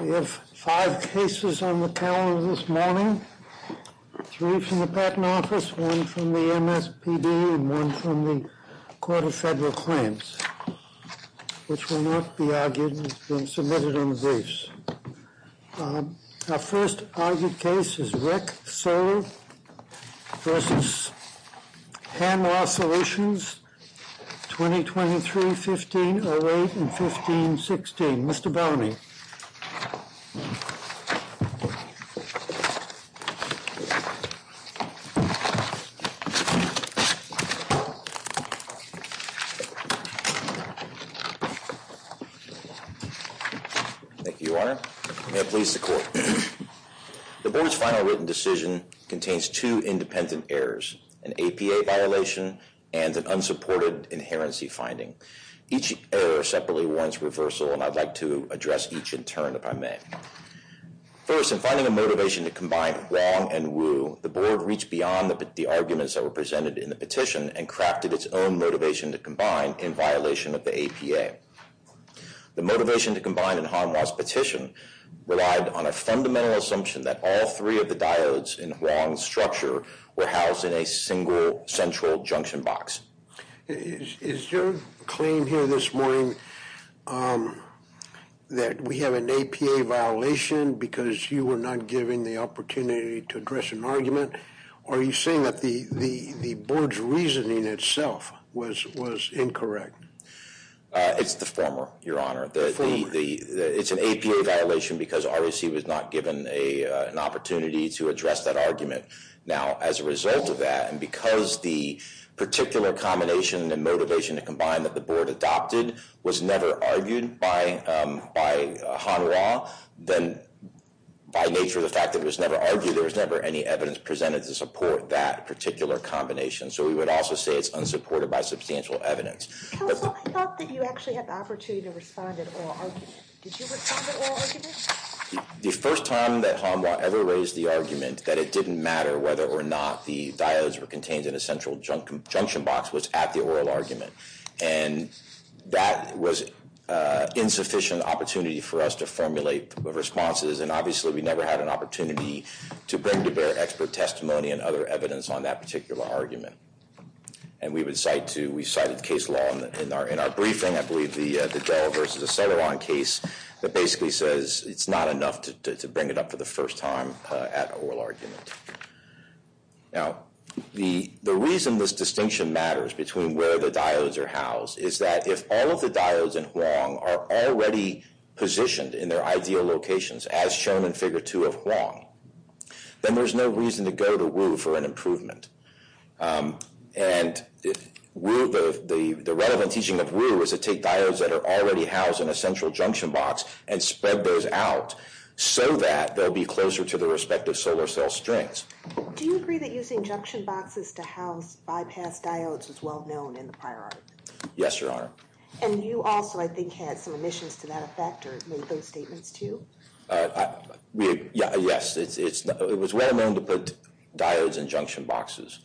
We have five cases on the calendar this morning. Three from the Patent Office, one from the MSPD, and one from the Court of Federal Claims, which will not be argued and has been submitted on the briefs. Our first argued case is REC Solar v. Hanwha Solutions, 2023-15-08 and 15-16. Mr. Bowne. Thank you, Your Honor. May it please the Court. The Board's final written decision contains two independent errors, an APA violation and an unsupported inherency finding. Each error separately warrants reversal, and I'd like to address each in turn, if I may. First, in finding a motivation to combine Huang and Wu, the Board reached beyond the arguments that were presented in the petition and crafted its own motivation to combine in violation of the APA. The motivation to combine in Hanwha's petition relied on a fundamental assumption that all three of the diodes in Huang's structure were housed in a single central junction box. Is your claim here this morning that we have an APA violation because you were not given the opportunity to address an argument, or are you saying that the Board's reasoning itself was incorrect? It's the former, Your Honor. The former. It's an APA violation because REC was not given an opportunity to address that argument. Now, as a result of that, and because the particular combination and motivation to combine that the Board adopted was never argued by Hanwha, then by nature of the fact that it was never argued, there was never any evidence presented to support that particular combination. So we would also say it's unsupported by substantial evidence. Counsel, I thought that you actually had the opportunity to respond at oral argument. Did you respond at oral argument? The first time that Hanwha ever raised the argument that it didn't matter whether or not the diodes were contained in a central junction box was at the oral argument, and that was an insufficient opportunity for us to formulate responses, and obviously we never had an opportunity to bring to bear expert testimony and other evidence on that particular argument. And we cited case law in our briefing. I believe the Dahl versus Aceleron case that basically says it's not enough to bring it up for the first time at oral argument. Now, the reason this distinction matters between where the diodes are housed is that if all of the diodes in Huang are already positioned in their ideal locations, as shown in Figure 2 of Huang, then there's no reason to go to Wu for an improvement. And the relevant teaching of Wu is to take diodes that are already housed in a central junction box and spread those out so that they'll be closer to their respective solar cell strings. Do you agree that using junction boxes to house bypass diodes was well known in the prior argument? Yes, Your Honor. And you also, I think, had some omissions to that effect or made those statements too? Yes, it was well known to put diodes in junction boxes.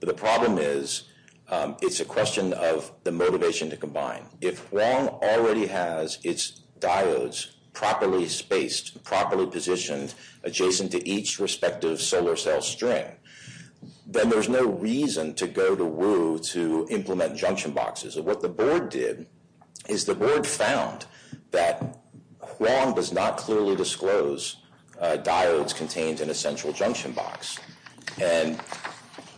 But the problem is it's a question of the motivation to combine. If Huang already has its diodes properly spaced, properly positioned, adjacent to each respective solar cell string, then there's no reason to go to Wu to implement junction boxes. What the board did is the board found that Huang does not clearly disclose diodes contained in a central junction box. And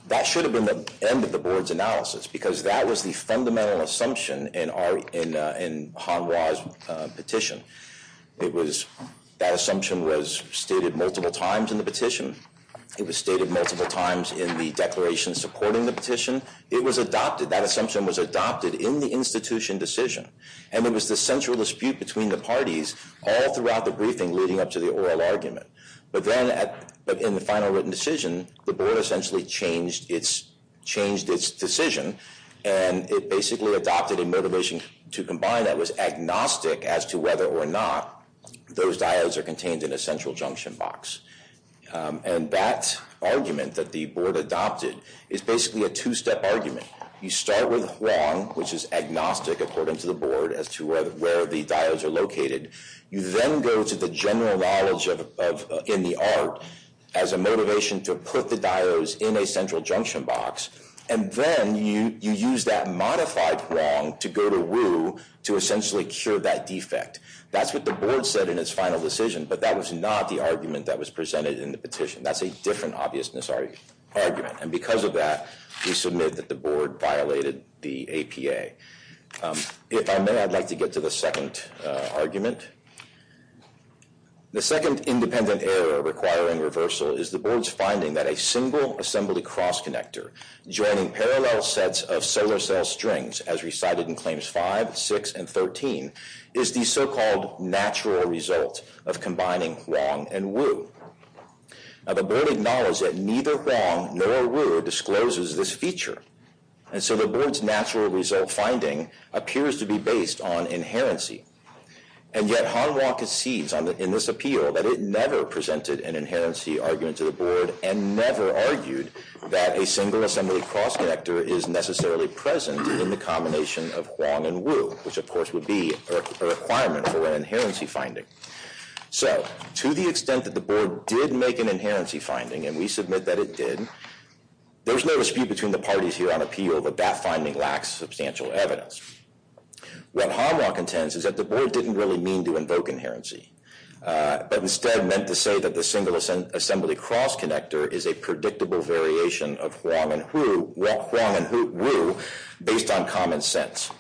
that should have been the end of the board's analysis because that was the fundamental assumption in Han Hua's petition. That assumption was stated multiple times in the petition. It was stated multiple times in the declaration supporting the petition. It was adopted, that assumption was adopted in the institution decision. And it was the central dispute between the parties all throughout the briefing leading up to the oral argument. But then in the final written decision, the board essentially changed its decision and it basically adopted a motivation to combine that was agnostic as to whether or not those diodes are contained in a central junction box. And that argument that the board adopted is basically a two-step argument. You start with Huang, which is agnostic according to the board as to where the diodes are located. You then go to the general knowledge in the art as a motivation to put the diodes in a central junction box. And then you use that modified Huang to go to Wu to essentially cure that defect. That's what the board said in its final decision, but that was not the argument that was presented in the petition. That's a different obviousness argument. And because of that, we submit that the board violated the APA. If I may, I'd like to get to the second argument. The second independent error requiring reversal is the board's finding that a single assembly cross connector joining parallel sets of solar cell strings as recited in Claims 5, 6, and 13 is the so-called natural result of combining Huang and Wu. Now, the board acknowledged that neither Huang nor Wu discloses this feature. And so the board's natural result finding appears to be based on inherency. And yet, Han Wang concedes in this appeal that it never presented an inherency argument to the board and never argued that a single assembly cross connector is necessarily present in the combination of Huang and Wu, which, of course, would be a requirement for an inherency finding. So to the extent that the board did make an inherency finding, and we submit that it did, there's no dispute between the parties here on appeal that that finding lacks substantial evidence. What Han Wang contends is that the board didn't really mean to invoke inherency, but instead meant to say that the single assembly cross connector is a predictable variation of Huang and Wu based on common sense.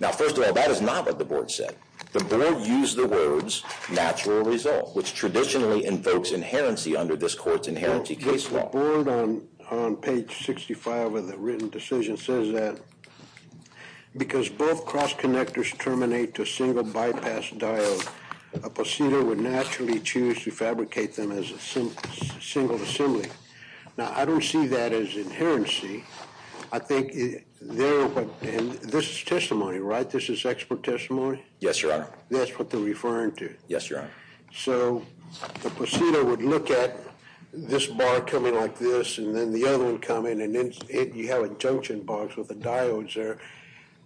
Now, first of all, that is not what the board said. The board used the words natural result, which traditionally invokes inherency under this court's inherency case law. The board on page 65 of the written decision says that because both cross connectors terminate to a single bypass diode, a procedure would naturally choose to fabricate them as a single assembly. Now, I don't see that as inherency. I think this is testimony, right? This is expert testimony? Yes, Your Honor. That's what they're referring to? Yes, Your Honor. So, the procedure would look at this bar coming like this, and then the other would come in, and then you have junction bars with the diodes there.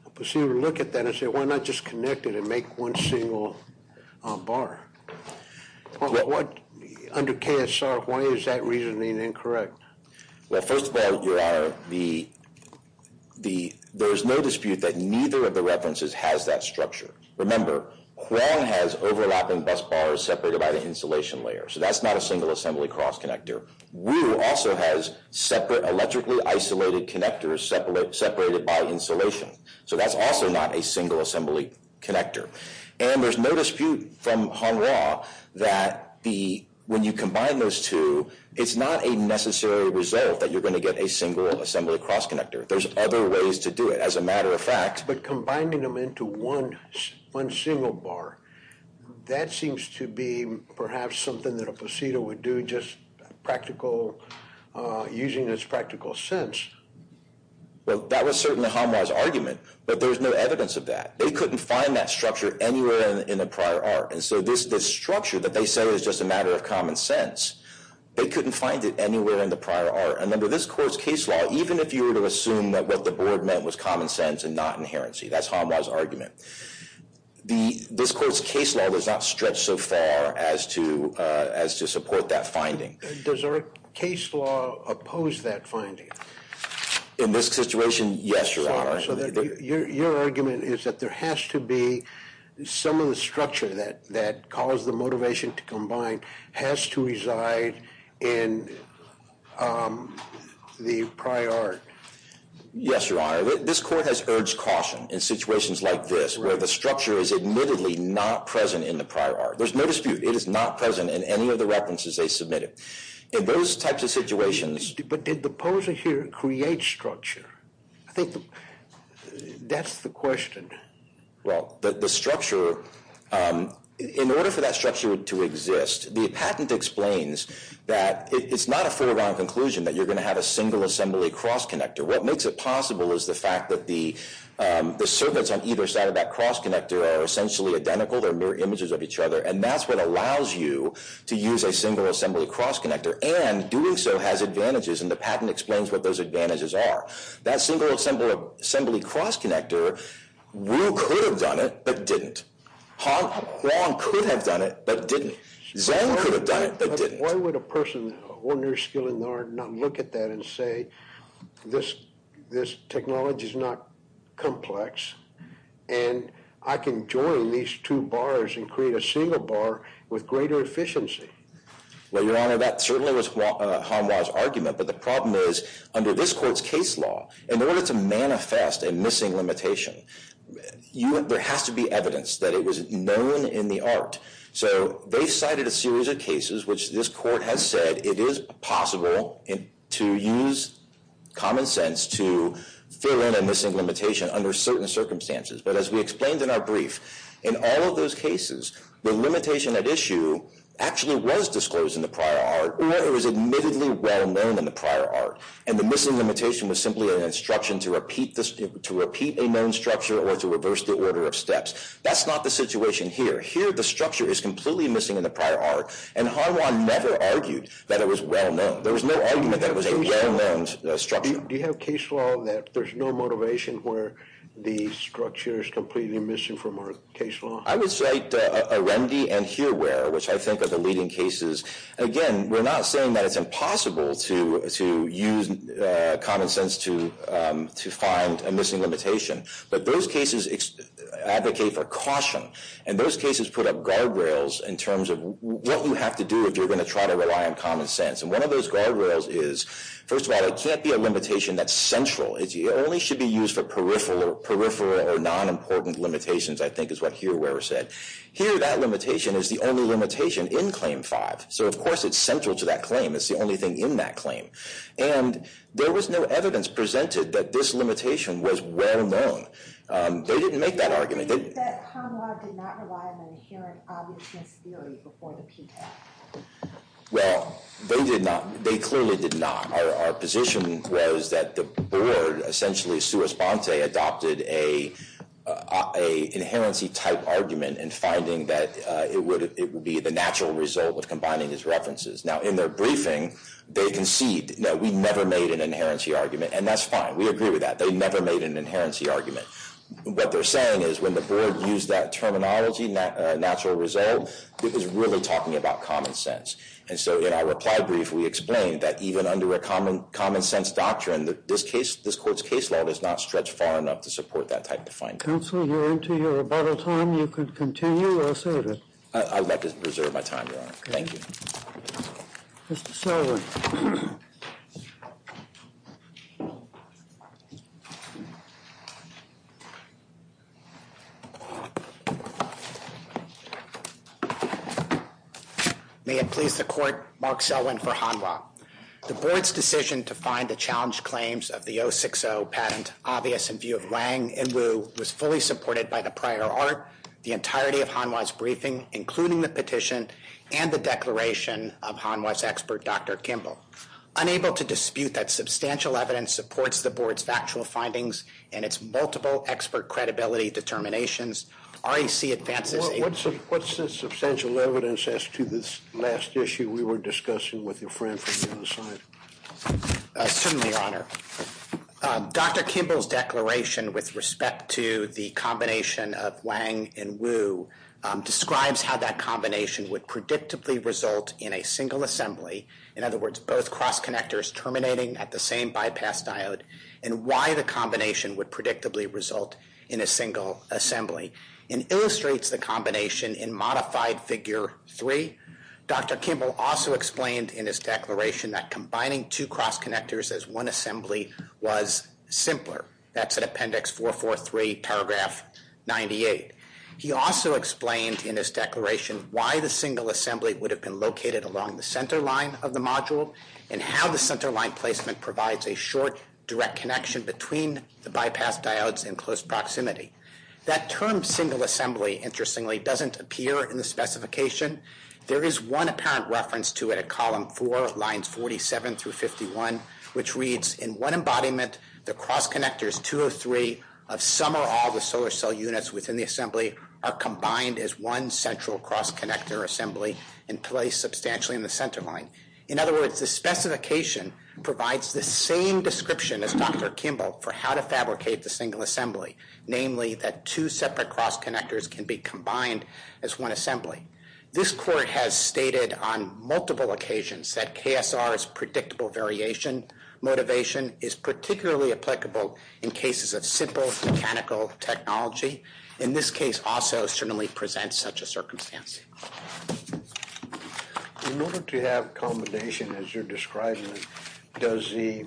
The procedure would look at that and say, why not just connect it and make one single bar? Under KSR, why is that reasoning incorrect? Well, first of all, Your Honor, there is no dispute that neither of the references has that structure. Remember, Hwang has overlapping bus bars separated by the insulation layer. So, that's not a single assembly cross connector. Wu also has separate electrically isolated connectors separated by insulation. So, that's also not a single assembly connector. And there's no dispute from Hanra that when you combine those two, it's not a necessary result that you're going to get a single assembly cross connector. There's other ways to do it. But combining them into one single bar, that seems to be perhaps something that a placido would do just using its practical sense. Well, that was certainly Hanra's argument, but there's no evidence of that. They couldn't find that structure anywhere in the prior art. And so, this structure that they say is just a matter of common sense, they couldn't find it anywhere in the prior art. Remember, this court's case law, even if you were to assume that what the board meant was common sense and not inherency, that's Hanra's argument. This court's case law does not stretch so far as to support that finding. Does our case law oppose that finding? In this situation, yes, Your Honor. So, your argument is that there has to be some of the structure that caused the motivation to combine has to reside in the prior art? Yes, Your Honor. This court has urged caution in situations like this, where the structure is admittedly not present in the prior art. There's no dispute. It is not present in any of the references they submitted. In those types of situations... But did the poser here create structure? I think that's the question. Well, the structure, in order for that structure to exist, the patent explains that it's not a foregone conclusion that you're going to have a single-assembly cross-connector. What makes it possible is the fact that the circuits on either side of that cross-connector are essentially identical. They're mirror images of each other. And that's what allows you to use a single-assembly cross-connector. And doing so has advantages, and the patent explains what those advantages are. That single-assembly cross-connector, Wu could have done it, but didn't. Huang could have done it, but didn't. Zhang could have done it, but didn't. Why would a person with ordinary skill in the art not look at that and say, this technology is not complex, and I can join these two bars and create a single bar with greater efficiency? Well, Your Honor, that certainly was Huang's argument. But the problem is, under this court's case law, in order to manifest a missing limitation, there has to be evidence that it was known in the art. So they cited a series of cases which this court has said it is possible to use common sense to fill in a missing limitation under certain circumstances. But as we explained in our brief, in all of those cases, the limitation at issue actually was disclosed in the prior art, or it was admittedly well-known in the prior art. And the missing limitation was simply an instruction to repeat a known structure or to reverse the order of steps. That's not the situation here. Here, the structure is completely missing in the prior art, and Huang never argued that it was well-known. There was no argument that it was a well-known structure. Do you have case law that there's no motivation where the structure is completely missing from our case law? I would cite Arendi and Hearware, which I think are the leading cases. Again, we're not saying that it's impossible to use common sense to find a missing limitation. But those cases advocate for caution. And those cases put up guardrails in terms of what you have to do if you're going to try to rely on common sense. And one of those guardrails is, first of all, it can't be a limitation that's central. It only should be used for peripheral or non-important limitations, I think is what Hearware said. Here, that limitation is the only limitation in Claim 5. So, of course, it's central to that claim. It's the only thing in that claim. And there was no evidence presented that this limitation was well-known. They didn't make that argument. They did not rely on an inherent obviousness theory before the PTAC. Well, they did not. They clearly did not. Our position was that the board, essentially sua sponte, adopted an inherency-type argument in finding that it would be the natural result of combining these references. Now, in their briefing, they conceded that we never made an inherency argument. And that's fine. We agree with that. They never made an inherency argument. What they're saying is when the board used that terminology, natural result, it was really talking about common sense. And so, in our reply brief, we explained that even under a common-sense doctrine, this court's case law does not stretch far enough to support that type of finding. Counsel, you're into your rebuttal time. You can continue or say it. I'd like to preserve my time, Your Honor. Thank you. Mr. Sullivan. Thank you, Your Honor. May it please the court, Mark Sullivan for Hanwha. The board's decision to find the challenged claims of the 060 patent obvious in view of Wang and Wu was fully supported by the prior art, the entirety of Hanwha's briefing, including the petition, and the declaration of Hanwha's expert, Dr. Kimball. Unable to dispute that substantial evidence supports the board's factual findings and its multiple expert credibility determinations, REC advances a What's the substantial evidence as to this last issue we were discussing with your friend from the other side? Certainly, Your Honor. Dr. Kimball's declaration with respect to the combination of Wang and Wu describes how that combination would predictably result in a single assembly. In other words, both cross-connectors terminating at the same bypass diode and why the combination would predictably result in a single assembly and illustrates the combination in modified Figure 3. Dr. Kimball also explained in his declaration that combining two cross-connectors as one assembly was simpler. That's in Appendix 443, Paragraph 98. He also explained in his declaration why the single assembly would have been located along the centerline of the module and how the centerline placement provides a short, direct connection between the bypass diodes in close proximity. That term single assembly, interestingly, doesn't appear in the specification. There is one apparent reference to it at Column 4, Lines 47 through 51, which reads, in one embodiment, the cross-connectors 203 of some or all the solar cell units within the assembly are combined as one central cross-connector assembly and placed substantially in the centerline. In other words, the specification provides the same description as Dr. Kimball for how to fabricate the single assembly, namely that two separate cross-connectors can be combined as one assembly. This court has stated on multiple occasions that KSR's predictable variation motivation is particularly applicable in cases of simple mechanical technology. And this case also certainly presents such a circumstance. In order to have combination as you're describing, does the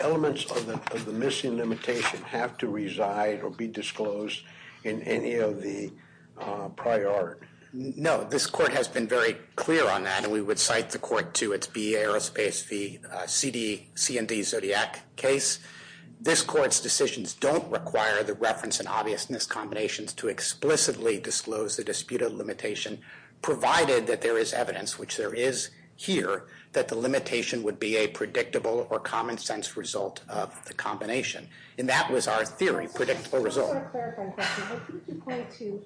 elements of the missing limitation have to reside or be disclosed in any of the prior art? No. This court has been very clear on that, and we would cite the court to its BEA Aerospace v. C&D Zodiac case. This court's decisions don't require the reference and obviousness combinations to explicitly disclose the disputed limitation, provided that there is evidence, which there is here, that the limitation would be a predictable or common sense result of the combination. And that was our theory, predictable result. I just want to clarify a question. I think you point to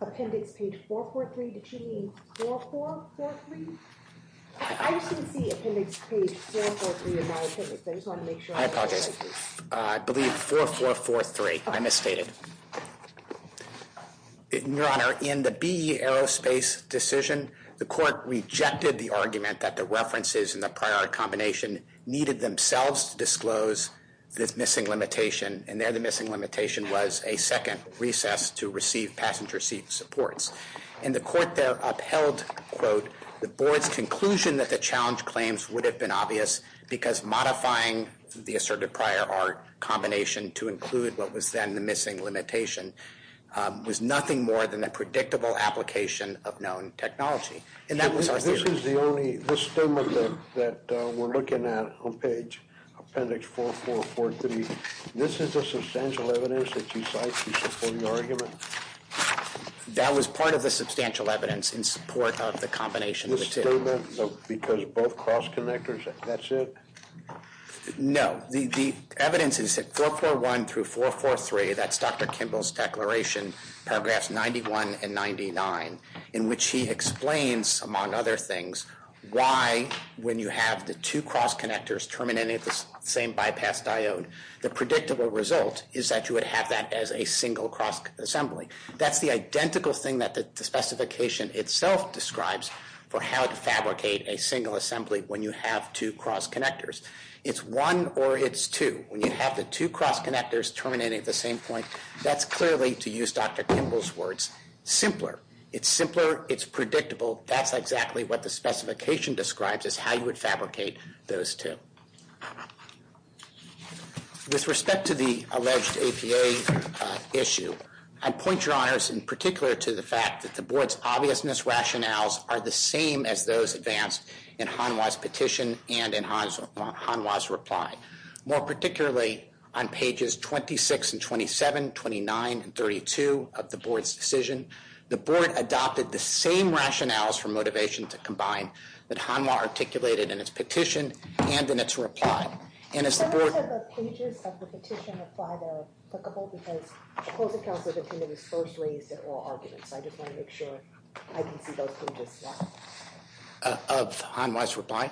appendix page 443. Did you mean 4443? I just didn't see appendix page 443 in my appendix. I just wanted to make sure. I apologize. I believe 4443. I misstated. Your Honor, in the BEA Aerospace decision, the court rejected the argument that the references in the prior combination needed themselves to disclose this missing limitation, and there the missing limitation was a second recess to receive passenger seat supports. In the court that upheld, quote, the board's conclusion that the challenge claims would have been obvious because modifying the asserted prior art combination to include what was then the missing limitation was nothing more than a predictable application of known technology. And that was our theory. This is the only, this statement that we're looking at on page appendix 4443, this is the substantial evidence that you cite to support your argument? That was part of the substantial evidence in support of the combination of the two. This statement, because both cross-connectors, that's it? No. The evidence is in 441 through 443. That's Dr. Kimball's declaration, paragraphs 91 and 99, in which he explains, among other things, why when you have the two cross-connectors terminating at the same bypass diode, the predictable result is that you would have that as a single cross-assembly. That's the identical thing that the specification itself describes for how to fabricate a single assembly when you have two cross-connectors. It's one or it's two. When you have the two cross-connectors terminating at the same point, that's clearly, to use Dr. Kimball's words, simpler. It's simpler, it's predictable, that's exactly what the specification describes is how you would fabricate those two. With respect to the alleged APA issue, I point your honors in particular to the fact that the board's obviousness rationales are the same as those advanced in Hanwha's petition and in Hanwha's reply. More particularly, on pages 26 and 27, 29 and 32 of the board's decision, the board adopted the same rationales for motivation to combine that Hanwha articulated in its petition and in its reply. And as the board... I want to make sure the pages of the petition reply are applicable because the closing counsel of the committee was first raised at oral arguments. So I just want to make sure I can see those pages now. Of Hanwha's reply?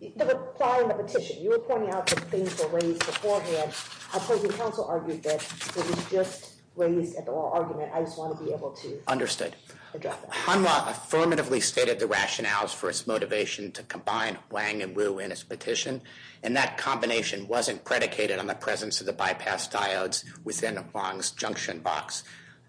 The reply in the petition. You were pointing out that things were raised beforehand. Our closing counsel argued that it was just raised at the oral argument. I just want to be able to address that. Hanwha affirmatively stated the rationales for its motivation to combine Wang and Wu in its petition, and that combination wasn't predicated on the presence of the bypass diodes within Wang's junction box.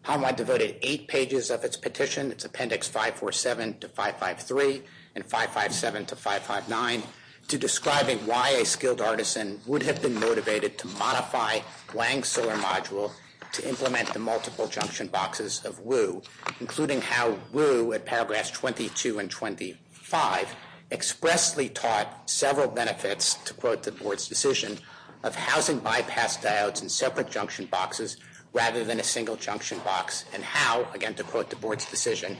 Hanwha devoted eight pages of its petition, its appendix 547 to 553 and 557 to 559, to describing why a skilled artisan would have been motivated to modify Wang's solar module to implement the multiple junction boxes of Wu, including how Wu, at paragraphs 22 and 25, expressly taught several benefits, to quote the board's decision, of housing bypass diodes in separate junction boxes rather than a single junction box, and how, again to quote the board's decision,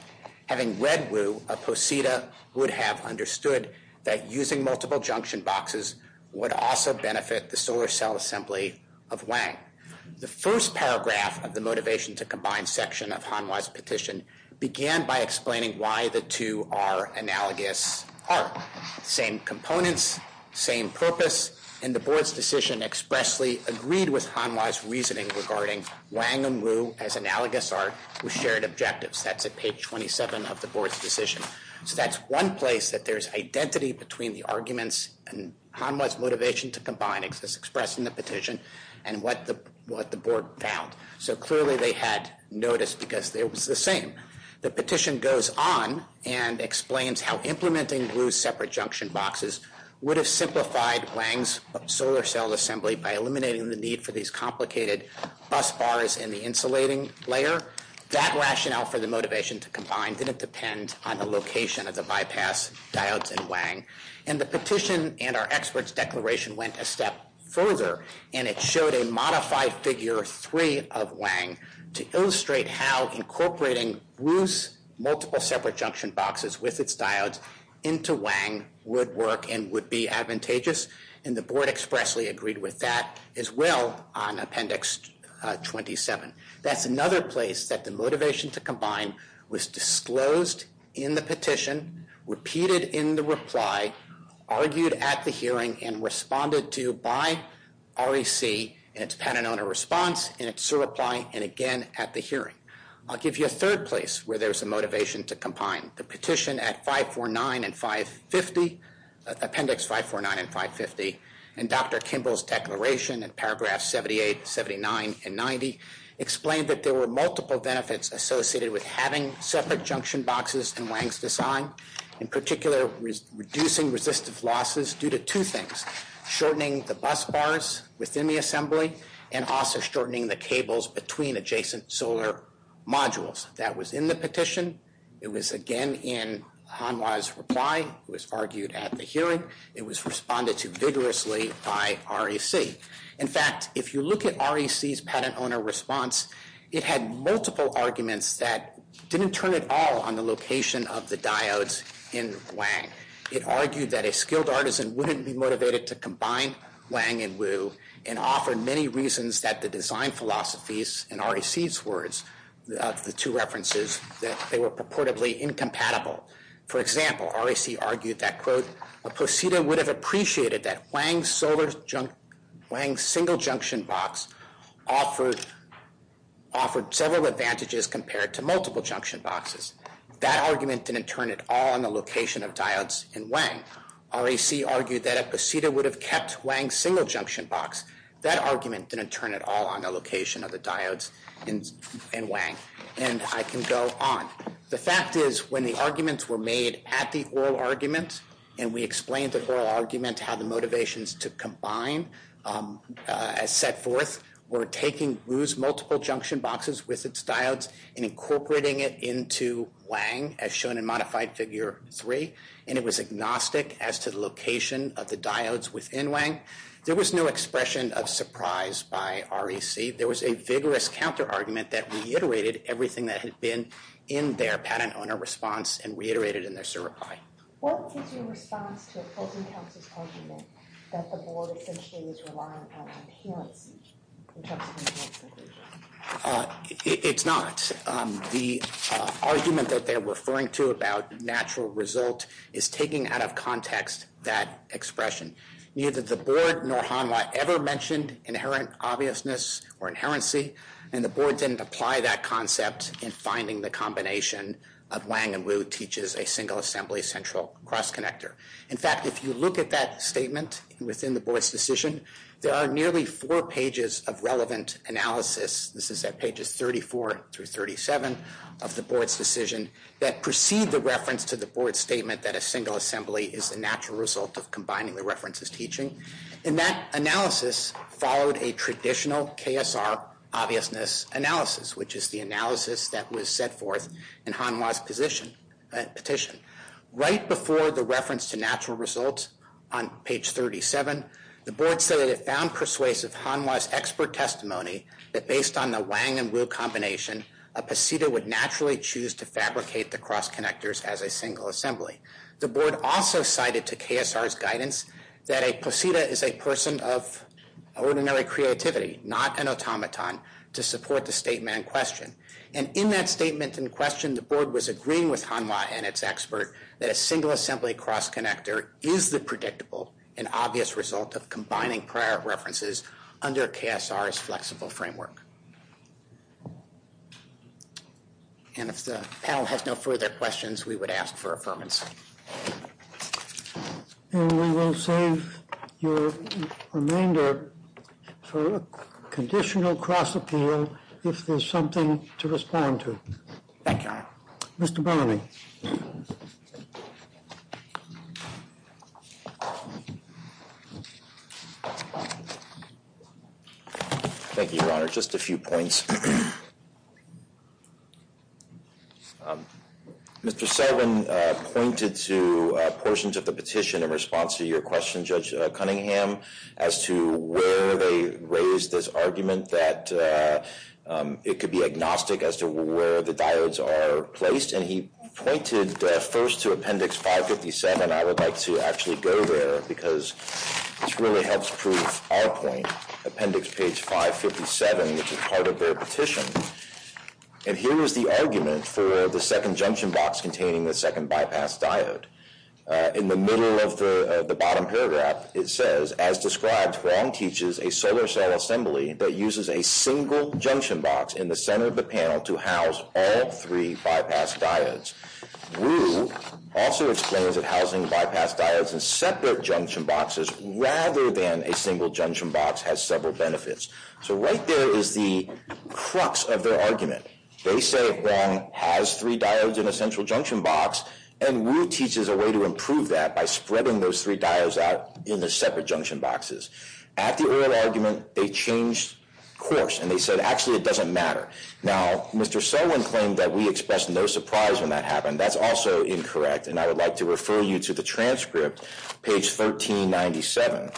having read Wu, a posita would have understood that using multiple junction boxes would also benefit the solar cell assembly of Wang. The first paragraph of the motivation to combine section of Hanwha's petition began by explaining why the two are analogous art. Same components, same purpose, and the board's decision expressly agreed with Hanwha's reasoning regarding Wang and Wu as analogous art with shared objectives. That's at page 27 of the board's decision. So that's one place that there's identity between the arguments and Hanwha's motivation to combine as expressed in the petition and what the board found. So clearly they had notice because it was the same. The petition goes on and explains how implementing Wu's separate junction boxes would have simplified Wang's solar cell assembly by eliminating the need for these complicated bus bars in the insulating layer. That rationale for the motivation to combine didn't depend on the location of the bypass diodes in Wang. And the petition and our expert's declaration went a step further and it showed a modified figure three of Wang to illustrate how incorporating Wu's multiple separate junction boxes with its diodes into Wang would work and would be advantageous, and the board expressly agreed with that as well on Appendix 27. That's another place that the motivation to combine was disclosed in the petition, repeated in the reply, argued at the hearing, and responded to by REC in its Patanona response, in its SIR reply, and again at the hearing. I'll give you a third place where there's a motivation to combine. The petition at 549 and 550, Appendix 549 and 550, and Dr. Kimball's declaration in paragraphs 78, 79, and 90 explained that there were multiple benefits associated with having separate junction boxes in Wang's design, in particular reducing resistive losses due to two things, shortening the bus bars within the assembly and also shortening the cables between adjacent solar modules. That was in the petition. It was again in Hanwha's reply. It was argued at the hearing. It was responded to vigorously by REC. In fact, if you look at REC's Patanona response, it had multiple arguments that didn't turn at all on the location of the diodes in Wang. It argued that a skilled artisan wouldn't be motivated to combine Wang and Wu and offered many reasons that the design philosophies in REC's words, the two references, that they were purportedly incompatible. For example, REC argued that, quote, a posita would have appreciated that Wang's single junction box offered several advantages compared to multiple junction boxes. That argument didn't turn at all on the location of diodes in Wang. REC argued that a posita would have kept Wang's single junction box. That argument didn't turn at all on the location of the diodes in Wang. And I can go on. The fact is, when the arguments were made at the oral argument, and we explained the oral argument, how the motivations to combine, as set forth, were taking Wu's multiple junction boxes with its diodes and incorporating it into Wang, as shown in modified figure 3, and it was agnostic as to the location of the diodes within Wang, there was no expression of surprise by REC. There was a vigorous counter-argument that reiterated everything that had been in their patent owner response and reiterated in their certify. What is your response to Fulton Counsel's argument that the board essentially was relying on appearances in terms of the multiple junction boxes? It's not. The argument that they're referring to about natural result is taking out of context that expression. Neither the board nor Hanwha ever mentioned inherent obviousness or inherency, and the board didn't apply that concept in finding the combination of Wang and Wu teaches a single assembly central cross-connector. In fact, if you look at that statement within the board's decision, there are nearly four pages of relevant analysis. This is at pages 34 through 37 of the board's decision that precede the reference to the board's statement that a single assembly is a natural result of combining the references teaching, and that analysis followed a traditional KSR obviousness analysis, which is the analysis that was set forth in Hanwha's petition. Right before the reference to natural results on page 37, the board said that it found persuasive Hanwha's expert testimony that based on the Wang and Wu combination, a poseta would naturally choose to fabricate the cross-connectors as a single assembly. The board also cited to KSR's guidance that a poseta is a person of ordinary creativity, not an automaton, to support the statement in question. And in that statement in question, the board was agreeing with Hanwha and its expert that a single assembly cross-connector is the predictable and obvious result of combining prior references under KSR's flexible framework. And if the panel has no further questions, we would ask for affirmation. And we will save your remainder for a conditional cross-appeal if there's something to respond to. Thank you, Your Honor. Mr. Bernanke. Thank you, Your Honor. Just a few points. Mr. Selvin pointed to portions of the petition in response to your question, Judge Cunningham, as to where they raised this argument that it could be agnostic as to where the diodes are placed. And he pointed first to Appendix 557. And I would like to actually go there because this really helps prove our point, Appendix 557, which is part of their petition. And here is the argument for the second junction box containing the second bypass diode. In the middle of the bottom paragraph, it says, As described, Huang teaches a solar cell assembly that uses a single junction box in the center of the panel to house all three bypass diodes. Wu also explains that housing bypass diodes in separate junction boxes rather than a single junction box has several benefits. So right there is the crux of their argument. They say Huang has three diodes in a central junction box, and Wu teaches a way to improve that by spreading those three diodes out in the separate junction boxes. At the oral argument, they changed course, and they said, actually, it doesn't matter. Now, Mr. Selwin claimed that we expressed no surprise when that happened. That's also incorrect, and I would like to refer you to the transcript, page 1397.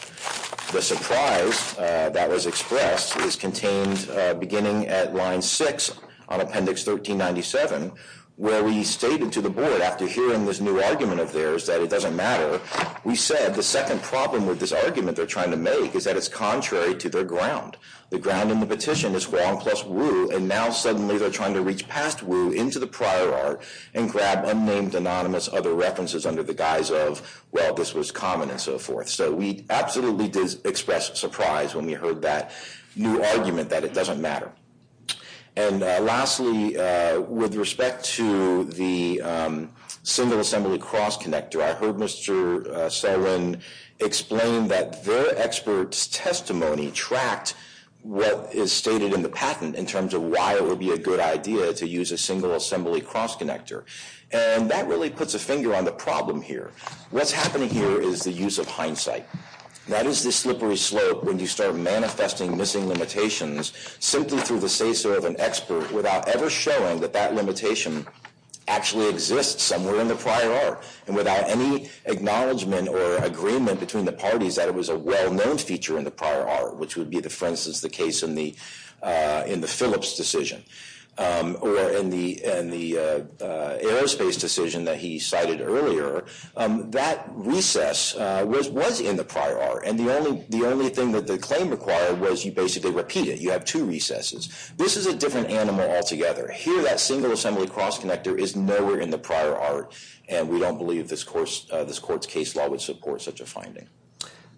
The surprise that was expressed is contained beginning at line 6 on Appendix 1397, where we stated to the board after hearing this new argument of theirs that it doesn't matter, we said the second problem with this argument they're trying to make is that it's contrary to their ground. The ground in the petition is Huang plus Wu, and now suddenly they're trying to reach past Wu into the prior art and grab unnamed anonymous other references under the guise of, well, this was common and so forth. So we absolutely did express surprise when we heard that new argument that it doesn't matter. And lastly, with respect to the single assembly cross connector, I heard Mr. Selwin explain that their expert's testimony tracked what is stated in the patent in terms of why it would be a good idea to use a single assembly cross connector. And that really puts a finger on the problem here. What's happening here is the use of hindsight. That is the slippery slope when you start manifesting missing limitations simply through the say-so of an expert without ever showing that that limitation actually exists somewhere in the prior art and without any acknowledgement or agreement between the parties that it was a well-known feature in the prior art, which would be, for instance, the case in the Phillips decision or in the aerospace decision that he cited earlier. That recess was in the prior art, and the only thing that the claim required was you basically repeat it. You have two recesses. This is a different animal altogether. Here, that single assembly cross connector is nowhere in the prior art, and we don't believe this court's case law would support such a finding.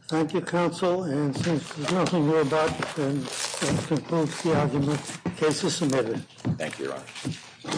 Thank you, counsel. And since there's nothing more to add, I'll close the argument. The case is submitted. Thank you, Your Honor.